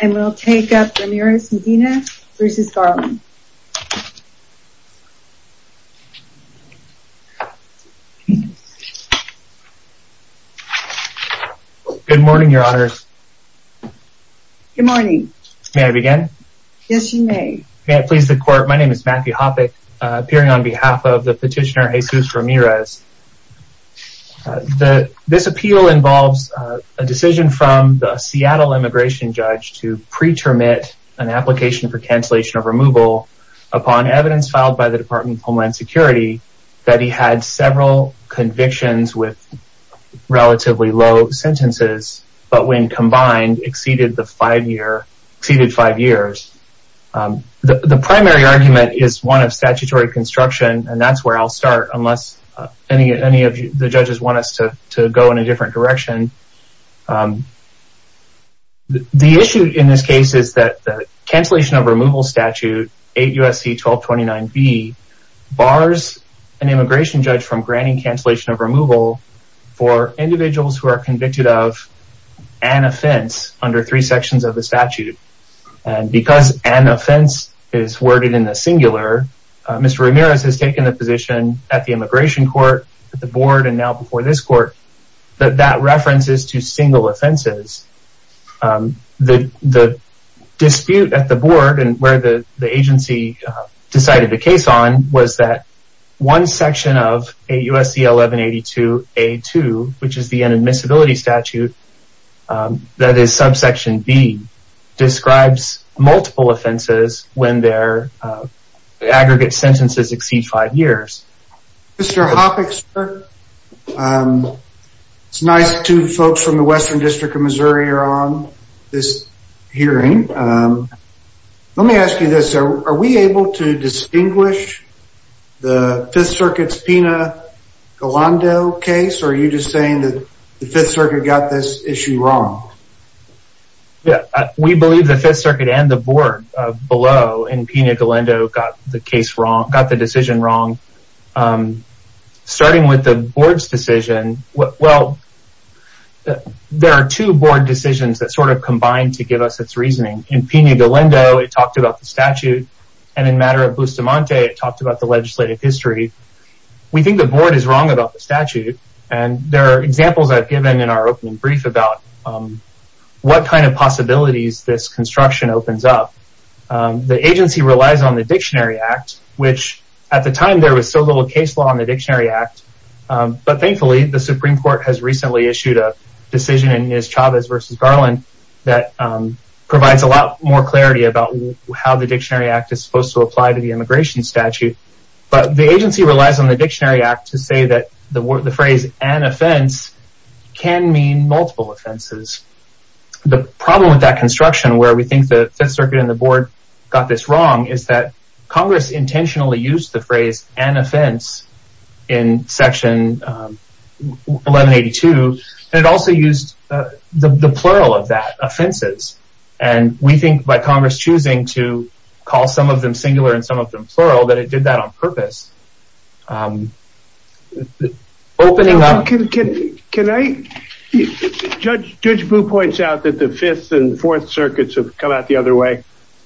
And we'll take up Ramirez-Medina v. Garland. Good morning, your honors. Good morning. May I begin? Yes, you may. May it please the court, my name is Matthew Hoppe, appearing on behalf of the petitioner Jesus Ramirez. This appeal involves a decision from the Seattle immigration judge to pre-termit an application for cancellation of removal upon evidence filed by the Department of Homeland Security that he had several convictions with relatively low sentences, but when combined, exceeded five years. The primary argument is one of statutory construction, and that's where I'll start, unless any of the judges want us to go in a different direction. The issue in this case is that the cancellation of removal statute, 8 U.S.C. 1229b, bars an immigration judge from granting cancellation of removal for individuals who are convicted of an offense under three sections of the statute. And because an offense is worded in the singular, Mr. Ramirez has taken the position at the immigration court, at the board, and now before this court, that that reference is to single offenses. The dispute at the board and where the agency decided the case on was that one section of 8 U.S.C. 1182a.2, which is the inadmissibility statute, that is subsection B, describes multiple offenses when their aggregate sentences exceed five years. Mr. Hoppix, it's nice two folks from the Western District of Missouri are on this hearing. Let me ask you this, are we able to distinguish the Fifth Circuit's Pina Galando case, or are you just saying that the Fifth Circuit got this issue wrong? We believe the Fifth Circuit and the board below in Pina Galando got the decision wrong. Starting with the board's decision, well, there are two board decisions that sort of combine to give us its reasoning. In Pina Galando, it talked about the statute, and in matter of Bustamante, it talked about the legislative history. We think the board is wrong about the statute, and there are examples I've given in our opening brief about what kind of possibilities this construction opens up. The agency relies on the Dictionary Act, which at the time there was so little case law on the Dictionary Act, but thankfully the Supreme Court has recently issued a decision in Chavez v. Garland that provides a lot more clarity about how the Dictionary Act is supposed to apply to the immigration statute. But the agency relies on the Dictionary Act to say that the phrase, an offense, can mean multiple offenses. The problem with that construction, where we think the Fifth Circuit and the board got this wrong, is that Congress intentionally used the phrase, an offense, in Section 1182, and it also used the plural of that, offenses. We think by Congress choosing to call some of them singular and some of them plural, that it did that on purpose. Judge Boo points out that the Fifth and Fourth Circuits have come out the other way.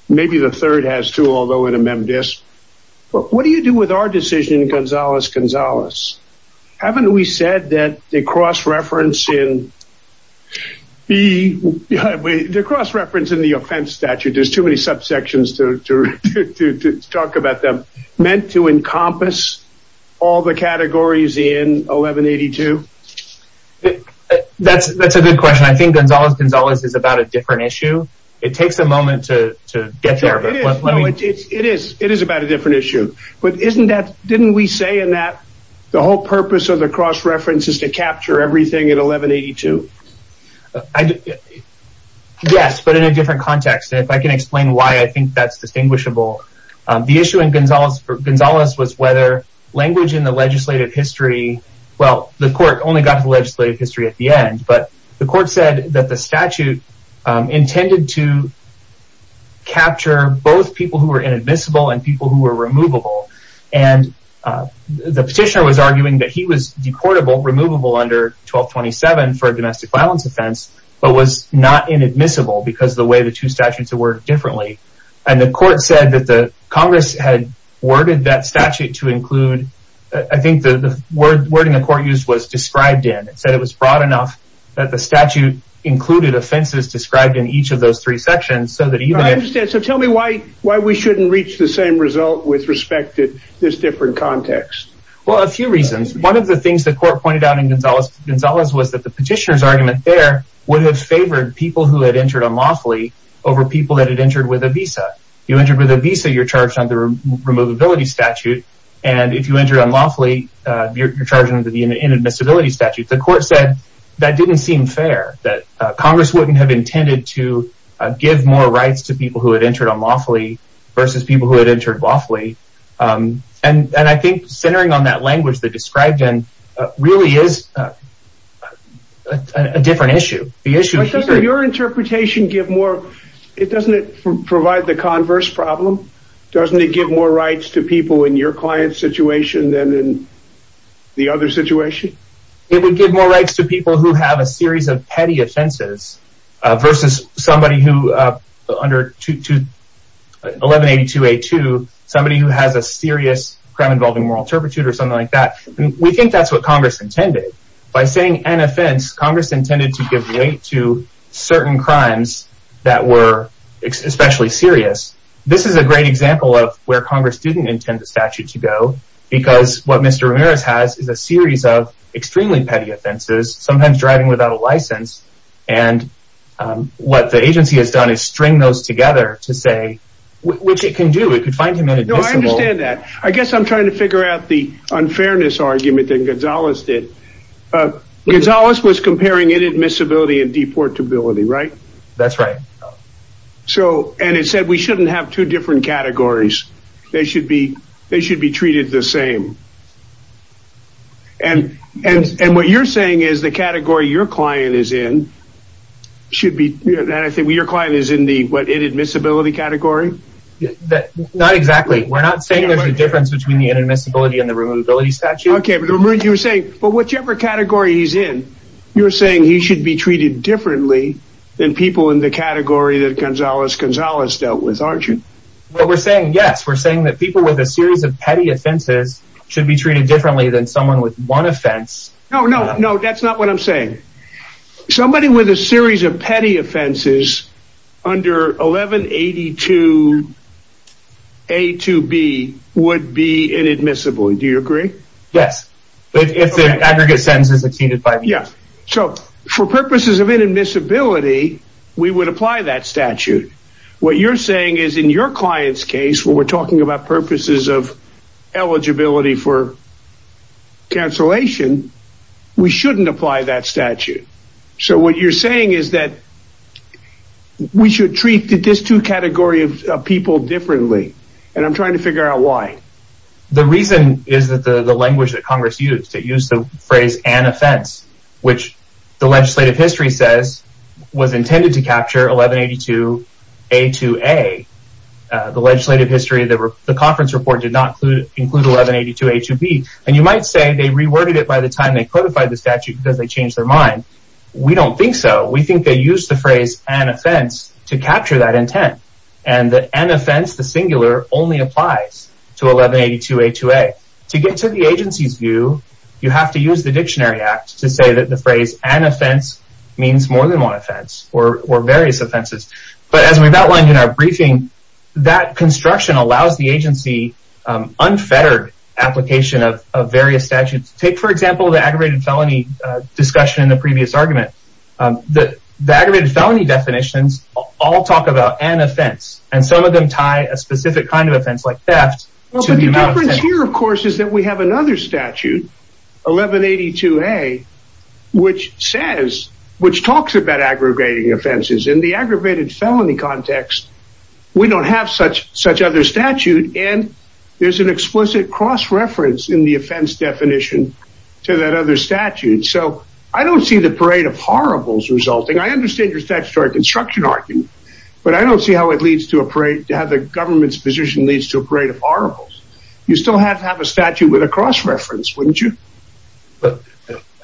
Maybe the Third has too, although it amended this. What do you do with our decision in Gonzales-Gonzales? Haven't we said that the cross-reference in the offense statute, meant to encompass all the categories in 1182? That's a good question. I think Gonzales-Gonzales is about a different issue. It takes a moment to get there. It is about a different issue. Didn't we say that the whole purpose of the cross-reference is to capture everything in 1182? Yes, but in a different context. If I can explain why I think that's distinguishable. The issue in Gonzales-Gonzales was whether language in the legislative history, well, the court only got to the legislative history at the end. The court said that the statute intended to capture both people who were inadmissible and people who were removable. The petitioner was arguing that he was decortable, removable under 1227 for a domestic violence offense, but was not inadmissible because of the way the two statutes were worded differently. The court said that the Congress had worded that statute to include, I think the wording the court used was described in. It said it was broad enough that the statute included offenses described in each of those three sections. So tell me why we shouldn't reach the same result with respect to this different context? Well, a few reasons. One of the things the court pointed out in Gonzales-Gonzales was that the petitioner's argument there would have favored people who had entered unlawfully over people who had entered with a visa. If you entered with a visa, you are charged under the removability statute. If you entered unlawfully, you are charged under the inadmissibility statute. The court said that didn't seem fair. Congress wouldn't have intended to give more rights to people who had entered unlawfully versus people who had entered lawfully. And I think centering on that language they described in really is a different issue. Doesn't your interpretation give more, doesn't it provide the converse problem? Doesn't it give more rights to people in your client's situation than in the other situation? It would give more rights to people who have a series of petty offenses versus somebody who, under 1182A2, somebody who has a serious crime involving moral turpitude or something like that. We think that's what Congress intended. By saying an offense, Congress intended to give weight to certain crimes that were especially serious. This is a great example of where Congress didn't intend the statute to go. Because what Mr. Ramirez has is a series of extremely petty offenses, sometimes driving without a license. And what the agency has done is string those together to say, which it can do. I understand that. I guess I'm trying to figure out the unfairness argument that Gonzales did. Gonzales was comparing inadmissibility and deportability, right? That's right. And it said we shouldn't have two different categories. They should be treated the same. And what you're saying is the category your client is in should be... Your client is in the inadmissibility category? Not exactly. We're not saying there's a difference between the inadmissibility and the removability statute. Okay. But you were saying, whichever category he's in, you're saying he should be treated differently than people in the category that Gonzales-Gonzales dealt with, aren't you? What we're saying, yes. We're saying that people with a series of petty offenses should be treated differently than someone with one offense. No, no, no. That's not what I'm saying. Somebody with a series of petty offenses under 1182A2B would be inadmissible. Do you agree? Yes. If the aggregate sentence is exceeded by... Yeah. So for purposes of inadmissibility, we would apply that statute. What you're saying is in your client's case, when we're talking about purposes of eligibility for cancellation, we shouldn't apply that statute. So what you're saying is that we should treat these two categories of people differently. And I'm trying to figure out why. The reason is that the language that Congress used, they used the phrase, which the legislative history says was intended to capture 1182A2A. The legislative history, the conference report did not include 1182A2B. And you might say they reworded it by the time they codified the statute because they changed their mind. We don't think so. We think they used the phrase an offense to capture that intent. And the an offense, the singular, only applies to 1182A2A. To get to the agency's view, you have to use the Dictionary Act to say that the phrase an offense means more than one offense or various offenses. But as we've outlined in our briefing, that construction allows the agency unfettered application of various statutes. Take, for example, the aggravated felony discussion in the previous argument. The aggravated felony definitions all talk about an offense. And some of them tie a specific kind of offense like theft to the amount of... The difference here, of course, is that we have another statute, 1182A, which says, which talks about aggravating offenses. In the aggravated felony context, we don't have such other statute. And there's an explicit cross-reference in the offense definition to that other statute. So I don't see the parade of horribles resulting. I understand your statutory construction argument, but I don't see how it leads to a parade, how the government's position leads to a parade of horribles. You still have to have a statute with a cross-reference, wouldn't you?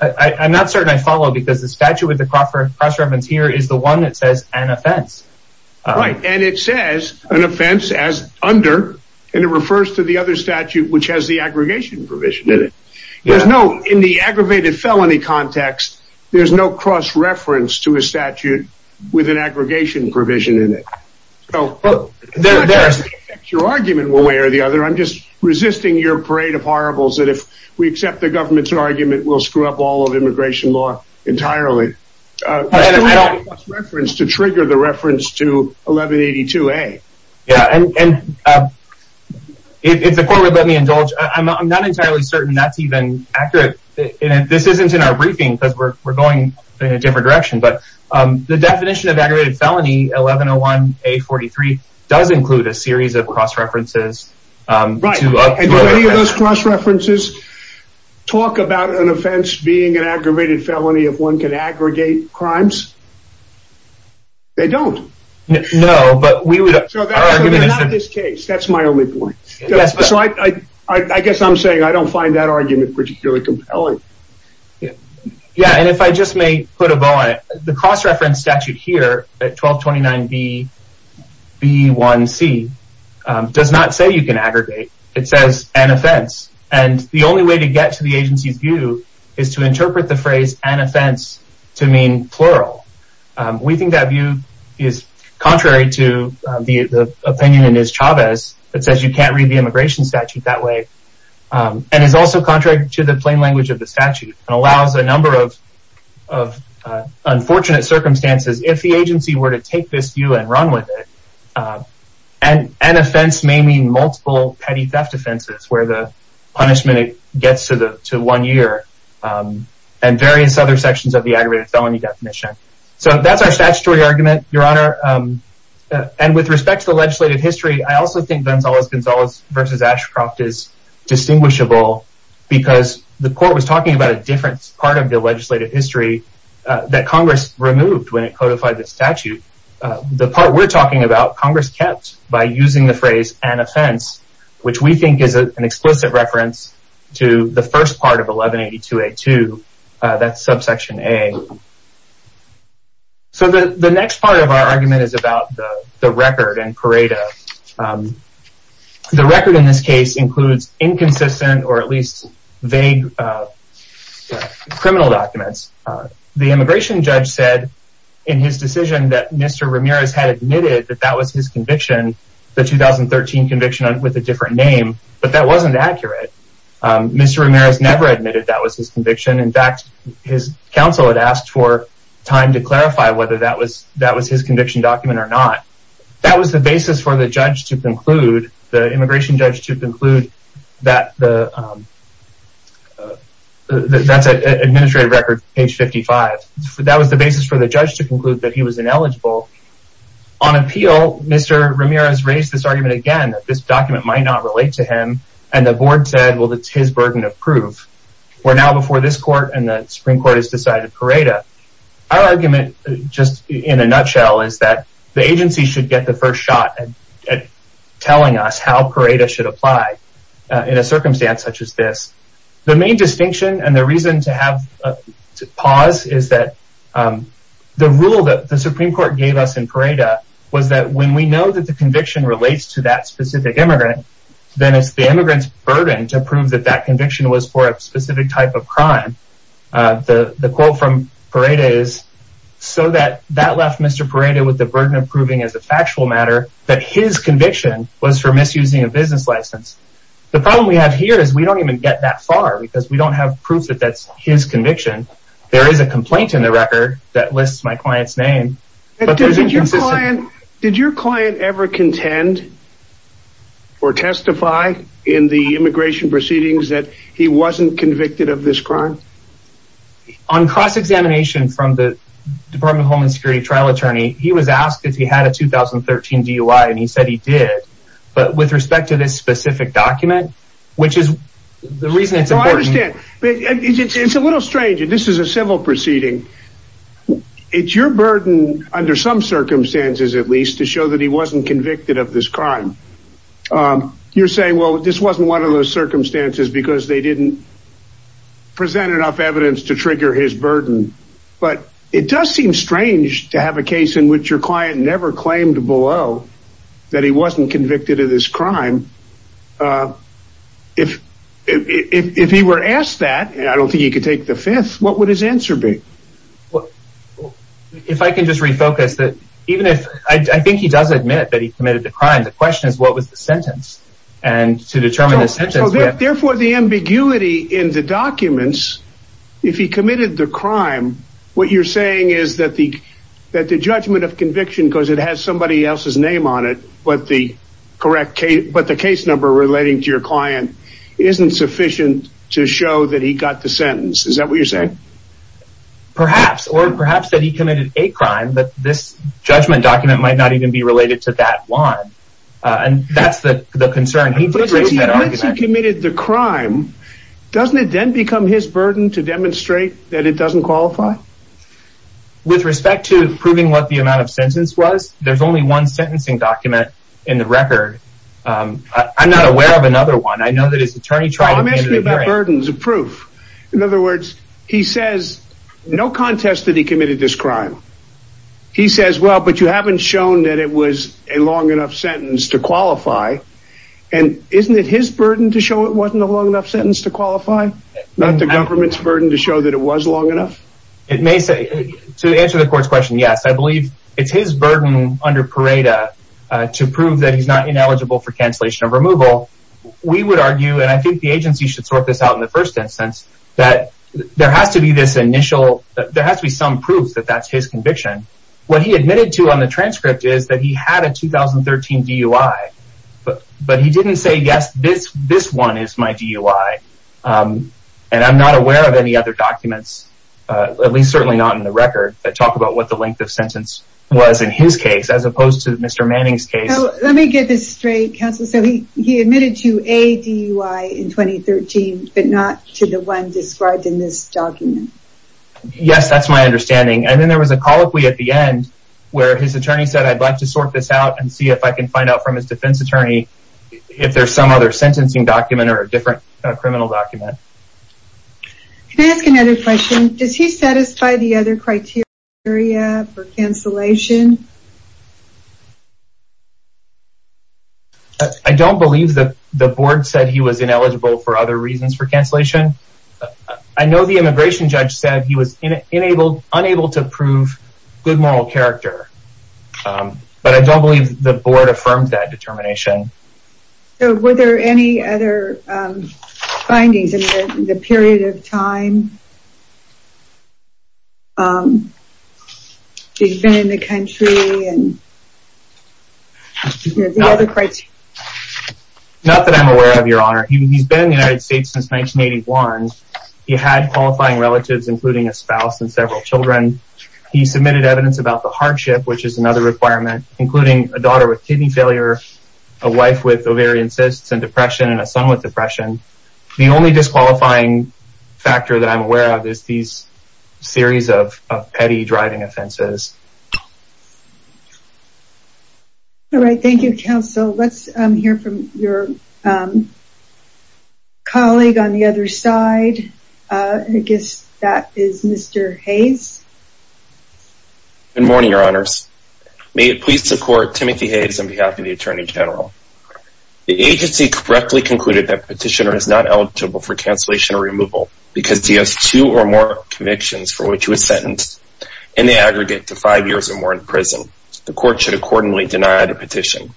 I'm not certain I follow, because the statute with the cross-reference here is the one that says an offense. Right, and it says an offense as under, and it refers to the other statute, which has the aggregation provision in it. In the aggravated felony context, there's no cross-reference to a statute with an aggregation provision in it. Your argument one way or the other, I'm just resisting your parade of horribles, that if we accept the government's argument, we'll screw up all of immigration law entirely. There's no cross-reference to trigger the reference to 1182A. Yeah, and if the court would let me indulge, I'm not entirely certain that's even accurate. This isn't in our briefing, because we're going in a different direction. The definition of aggravated felony, 1101A43, does include a series of cross-references. Right, and do any of those cross-references talk about an offense being an aggravated felony if one can aggregate crimes? They don't. No, but we would... They're not in this case, that's my only point. I guess I'm saying I don't find that argument particularly compelling. Yeah, and if I just may put a bow on it, the cross-reference statute here at 1229B1C does not say you can aggregate. It says an offense, and the only way to get to the agency's view is to interpret the phrase an offense to mean plural. We think that view is contrary to the opinion in Iz Chavez that says you can't read the immigration statute that way. And is also contrary to the plain language of the statute, and allows a number of unfortunate circumstances if the agency were to take this view and run with it. An offense may mean multiple petty theft offenses, where the punishment gets to one year, and various other sections of the aggravated felony definition. So that's our statutory argument, Your Honor. And with respect to the legislative history, I also think Gonzalez-Gonzalez v. Ashcroft is distinguishable because the court was talking about a different part of the legislative history that Congress removed when it codified the statute. The part we're talking about, Congress kept by using the phrase an offense, which we think is an explicit reference to the first part of 1182A2, that's subsection A. So the next part of our argument is about the record and Pareto. The record in this case includes inconsistent or at least vague criminal documents. The immigration judge said in his decision that Mr. Ramirez had admitted that that was his conviction, the 2013 conviction with a different name, but that wasn't accurate. Mr. Ramirez never admitted that was his conviction. In fact, his counsel had asked for time to clarify whether that was his conviction document or not. That was the basis for the judge to conclude, the immigration judge to conclude, that's an administrative record, page 55. That was the basis for the judge to conclude that he was ineligible. On appeal, Mr. Ramirez raised this argument again that this document might not relate to him, and the board said, well, it's his burden of proof. We're now before this court and the Supreme Court has decided Pareto. Our argument, just in a nutshell, is that the agency should get the first shot at telling us how Pareto should apply in a circumstance such as this. The main distinction and the reason to pause is that the rule that the Supreme Court gave us in Pareto was that when we know that the conviction relates to that specific immigrant, then it's the immigrant's burden to prove that that conviction was for a specific type of crime. The quote from Pareto is, so that that left Mr. Pareto with the burden of proving as a factual matter that his conviction was for misusing a business license. The problem we have here is we don't even get that far because we don't have proof that that's his conviction. There is a complaint in the record that lists my client's name. Did your client ever contend or testify in the immigration proceedings that he wasn't convicted of this crime? On cross-examination from the Department of Homeland Security trial attorney, he was asked if he had a 2013 DUI, and he said he did. But with respect to this specific document, which is the reason it's important. It's a little strange. This is a civil proceeding. It's your burden under some circumstances, at least, to show that he wasn't convicted of this crime. You're saying, well, this wasn't one of those circumstances because they didn't present enough evidence to trigger his burden. But it does seem strange to have a case in which your client never claimed below that he wasn't convicted of this crime. If if he were asked that, I don't think he could take the fifth. What would his answer be? Well, if I can just refocus that even if I think he does admit that he committed the crime, the question is, what was the sentence? Therefore, the ambiguity in the documents, if he committed the crime, what you're saying is that the that the judgment of conviction because it has somebody else's name on it. But the correct case, but the case number relating to your client isn't sufficient to show that he got the sentence. Is that what you're saying? Perhaps or perhaps that he committed a crime. But this judgment document might not even be related to that one. And that's the concern. He committed the crime. Doesn't it then become his burden to demonstrate that it doesn't qualify? With respect to proving what the amount of sentence was, there's only one sentencing document in the record. I'm not aware of another one. I know that his attorney tried. I'm asking about burdens of proof. In other words, he says no contest that he committed this crime. He says, well, but you haven't shown that it was a long enough sentence to qualify. And isn't it his burden to show it wasn't a long enough sentence to qualify? Not the government's burden to show that it was long enough. It may say to answer the court's question. Yes, I believe it's his burden under Parada to prove that he's not ineligible for cancellation of removal. We would argue, and I think the agency should sort this out in the first instance, that there has to be some proof that that's his conviction. What he admitted to on the transcript is that he had a 2013 DUI. But he didn't say, yes, this one is my DUI. And I'm not aware of any other documents, at least certainly not in the record, that talk about what the length of sentence was in his case as opposed to Mr. Manning's case. So let me get this straight. So he admitted to a DUI in 2013, but not to the one described in this document. Yes, that's my understanding. And then there was a colloquy at the end where his attorney said, I'd like to sort this out and see if I can find out from his defense attorney if there's some other sentencing document or a different criminal document. Can I ask another question? Does he satisfy the other criteria for cancellation? I don't believe that the board said he was ineligible for other reasons for cancellation. I know the immigration judge said he was unable to prove good moral character. But I don't believe the board affirmed that determination. Were there any other findings in the period of time he's been in the country? Not that I'm aware of, Your Honor. He's been in the United States since 1981. He had qualifying relatives, including a spouse and several children. He submitted evidence about the hardship, which is another requirement, including a daughter with kidney failure, a wife with ovarian cysts and depression, and a son with depression. The only disqualifying factor that I'm aware of is these series of petty driving offenses. All right. Thank you, counsel. Let's hear from your colleague on the other side. I guess that is Mr. Hayes. Good morning, Your Honors. May it please the Court, Timothy Hayes on behalf of the Attorney General. The agency correctly concluded that the petitioner is not eligible for cancellation or removal because he has two or more convictions for which he was sentenced, and they aggregate to five years or more in prison. The Court should accordingly deny the petition.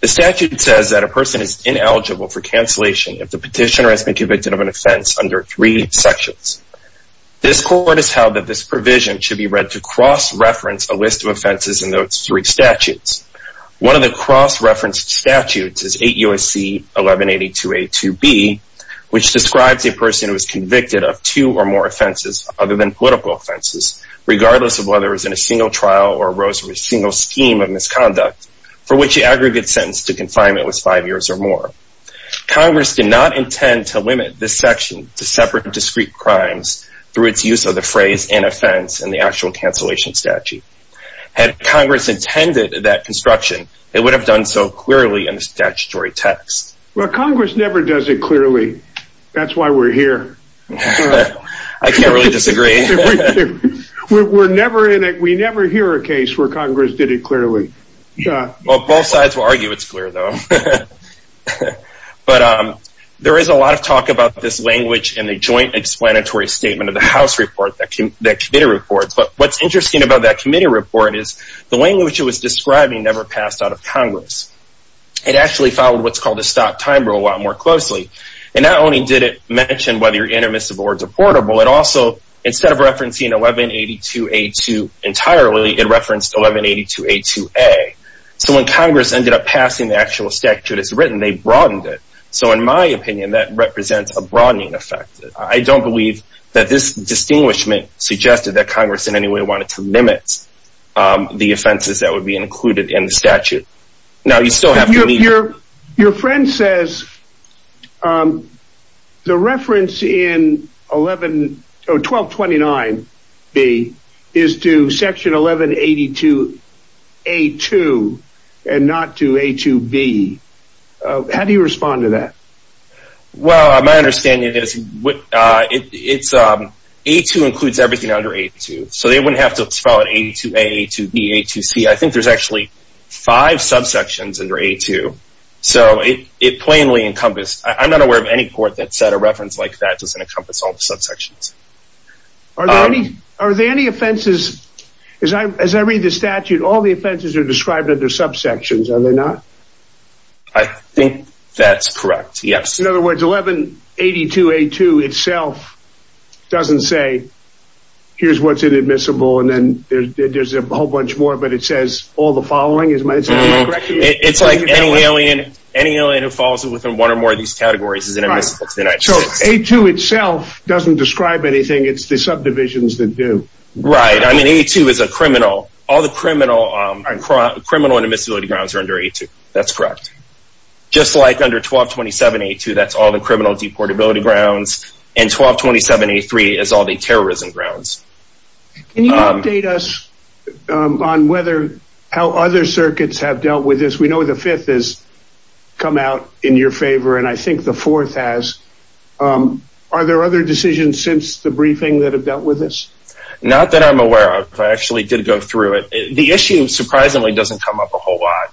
The statute says that a person is ineligible for cancellation if the petitioner has been convicted of an offense under three sections. This Court has held that this provision should be read to cross-reference a list of offenses in those three statutes. One of the cross-referenced statutes is 8 U.S.C. 1182a2b, which describes a person who is convicted of two or more offenses other than political offenses, regardless of whether it was in a single trial or arose from a single scheme of misconduct, for which the aggregate sentence to confinement was five years or more. Congress did not intend to limit this section to separate discrete crimes through its use of the phrase inoffense in the actual cancellation statute. Had Congress intended that construction, it would have done so clearly in the statutory text. Well, Congress never does it clearly. That's why we're here. I can't really disagree. We're never in it. We never hear a case where Congress did it clearly. Well, both sides will argue it's clear, though. But there is a lot of talk about this language in the joint explanatory statement of the House report, the committee report. But what's interesting about that committee report is the language it was describing never passed out of Congress. It actually followed what's called a stop-time rule a lot more closely. And not only did it mention whether intermissible or deportable, it also, instead of referencing 1182a2 entirely, it referenced 1182a2a. So when Congress ended up passing the actual statute as written, they broadened it. So in my opinion, that represents a broadening effect. I don't believe that this distinguishment suggested that Congress in any way wanted to limit the offenses that would be included in the statute. Your friend says the reference in 1229b is to section 1182a2 and not to a2b. How do you respond to that? Well, my understanding is a2 includes everything under a2. So they wouldn't have to follow a2a, a2b, a2c. I think there's actually five subsections under a2. So it plainly encompassed. I'm not aware of any court that said a reference like that doesn't encompass all the subsections. Are there any offenses, as I read the statute, all the offenses are described under subsections, are they not? I think that's correct, yes. In other words, 1182a2 itself doesn't say, here's what's inadmissible. And then there's a whole bunch more, but it says all the following. It's like any alien who falls within one or more of these categories is inadmissible. So a2 itself doesn't describe anything. It's the subdivisions that do. Right. I mean, a2 is a criminal. All the criminal and admissibility grounds are under a2. That's correct. Just like under 1227a2, that's all the criminal deportability grounds. And 1227a3 is all the terrorism grounds. Can you update us on how other circuits have dealt with this? We know the fifth has come out in your favor, and I think the fourth has. Are there other decisions since the briefing that have dealt with this? Not that I'm aware of. I actually did go through it. The issue, surprisingly, doesn't come up a whole lot.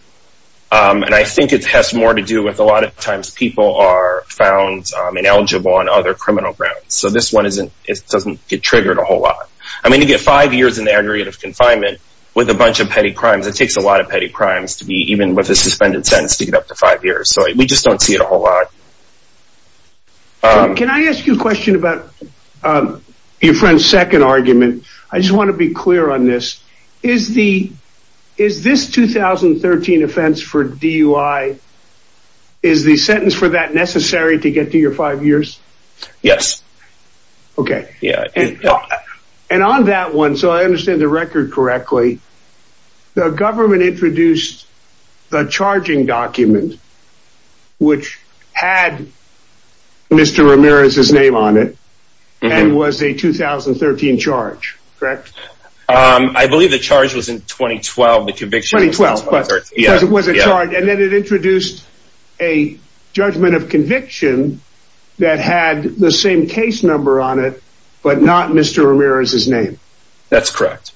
And I think it has more to do with a lot of times people are found ineligible on other criminal grounds. So this one doesn't get triggered a whole lot. I mean, you get five years in the area of confinement with a bunch of petty crimes. It takes a lot of petty crimes to be even with a suspended sentence to get up to five years. So we just don't see it a whole lot. Can I ask you a question about your friend's second argument? I just want to be clear on this. Is this 2013 offense for DUI, is the sentence for that necessary to get to your five years? Yes. Okay. And on that one, so I understand the record correctly, the government introduced the charging document, which had Mr. Ramirez's name on it, and was a 2013 charge, correct? I believe the charge was in 2012. 2012. And then it introduced a judgment of conviction that had the same case number on it, but not Mr. Ramirez's name. That's correct.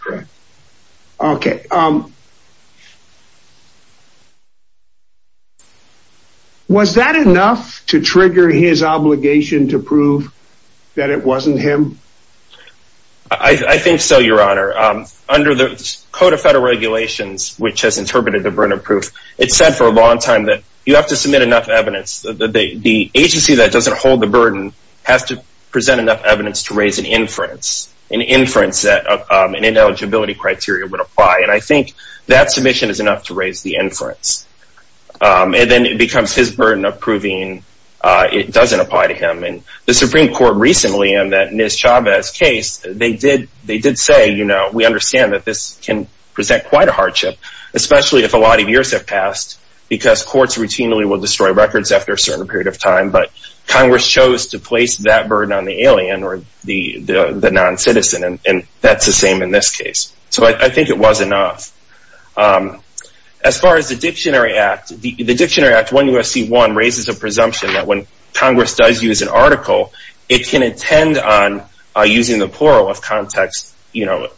Okay. Was that enough to trigger his obligation to prove that it wasn't him? I think so, Your Honor. Under the Code of Federal Regulations, which has interpreted the burden of proof, it said for a long time that you have to submit enough evidence. The agency that doesn't hold the burden has to present enough evidence to raise an inference. An inference that an ineligibility criteria would apply. And I think that submission is enough to raise the inference. And then it becomes his burden of proving it doesn't apply to him. And the Supreme Court recently in that Ms. Chavez case, they did say, you know, we understand that this can present quite a hardship, especially if a lot of years have passed, because courts routinely will destroy records after a certain period of time. But Congress chose to place that burden on the alien or the non-citizen, and that's the same in this case. So I think it was enough. As far as the Dictionary Act, the Dictionary Act 1 U.S.C. 1 raises a presumption that when Congress does use an article, it can intend on using the plural of context, you know,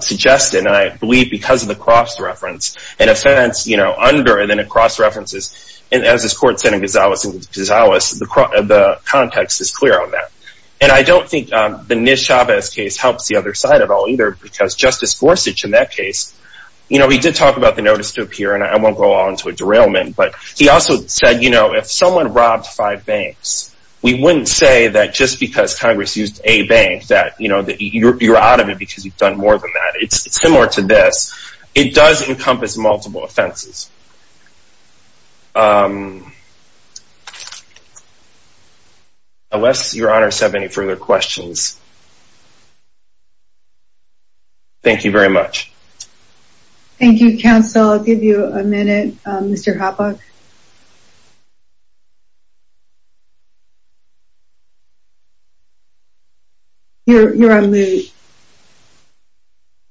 suggested, and I believe because of the cross-reference, an offense, you know, under and then across references, and as this court said in Gonzales v. Gonzales, the context is clear on that. And I don't think the Ms. Chavez case helps the other side at all either, because Justice Gorsuch in that case, you know, he did talk about the notice to appear, and I won't go on to a derailment, but he also said, you know, if someone robbed five banks, we wouldn't say that just because Congress used a bank, that, you know, you're out of it because you've done more than that. It's similar to this. It does encompass multiple offenses. Unless your honors have any further questions. Thank you very much. Thank you, counsel. I'll give you a minute, Mr. Hoppe. You're on mute.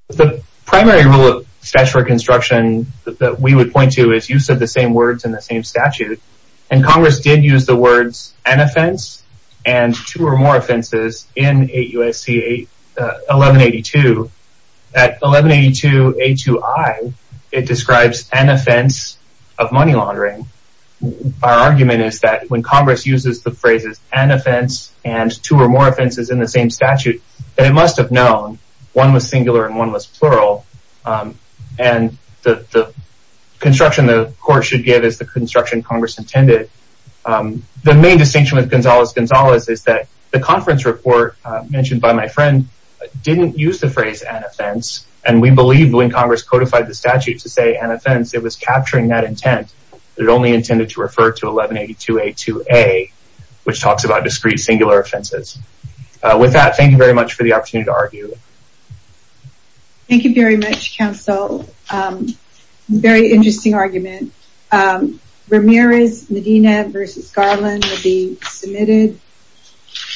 The primary rule of statute of reconstruction that we would point to is use of the same words in the same statute, and Congress did use the words an offense and two or more offenses in 8 U.S.C. 1182. At 1182A2I, it describes an offense of money laundering. Our argument is that when Congress uses the phrases an offense and two or more offenses in the same statute, that it must have known one was singular and one was plural, and the construction the court should give is the construction Congress intended. The main distinction with Gonzalez-Gonzalez is that the conference report mentioned by my friend didn't use the phrase an offense, and we believe when Congress codified the statute to say an offense, it was capturing that intent. It only intended to refer to 1182A2A, which talks about discrete singular offenses. With that, thank you very much for the opportunity to argue. Thank you very much, counsel. Very interesting argument. Ramirez-Medina v. Garland will be submitted.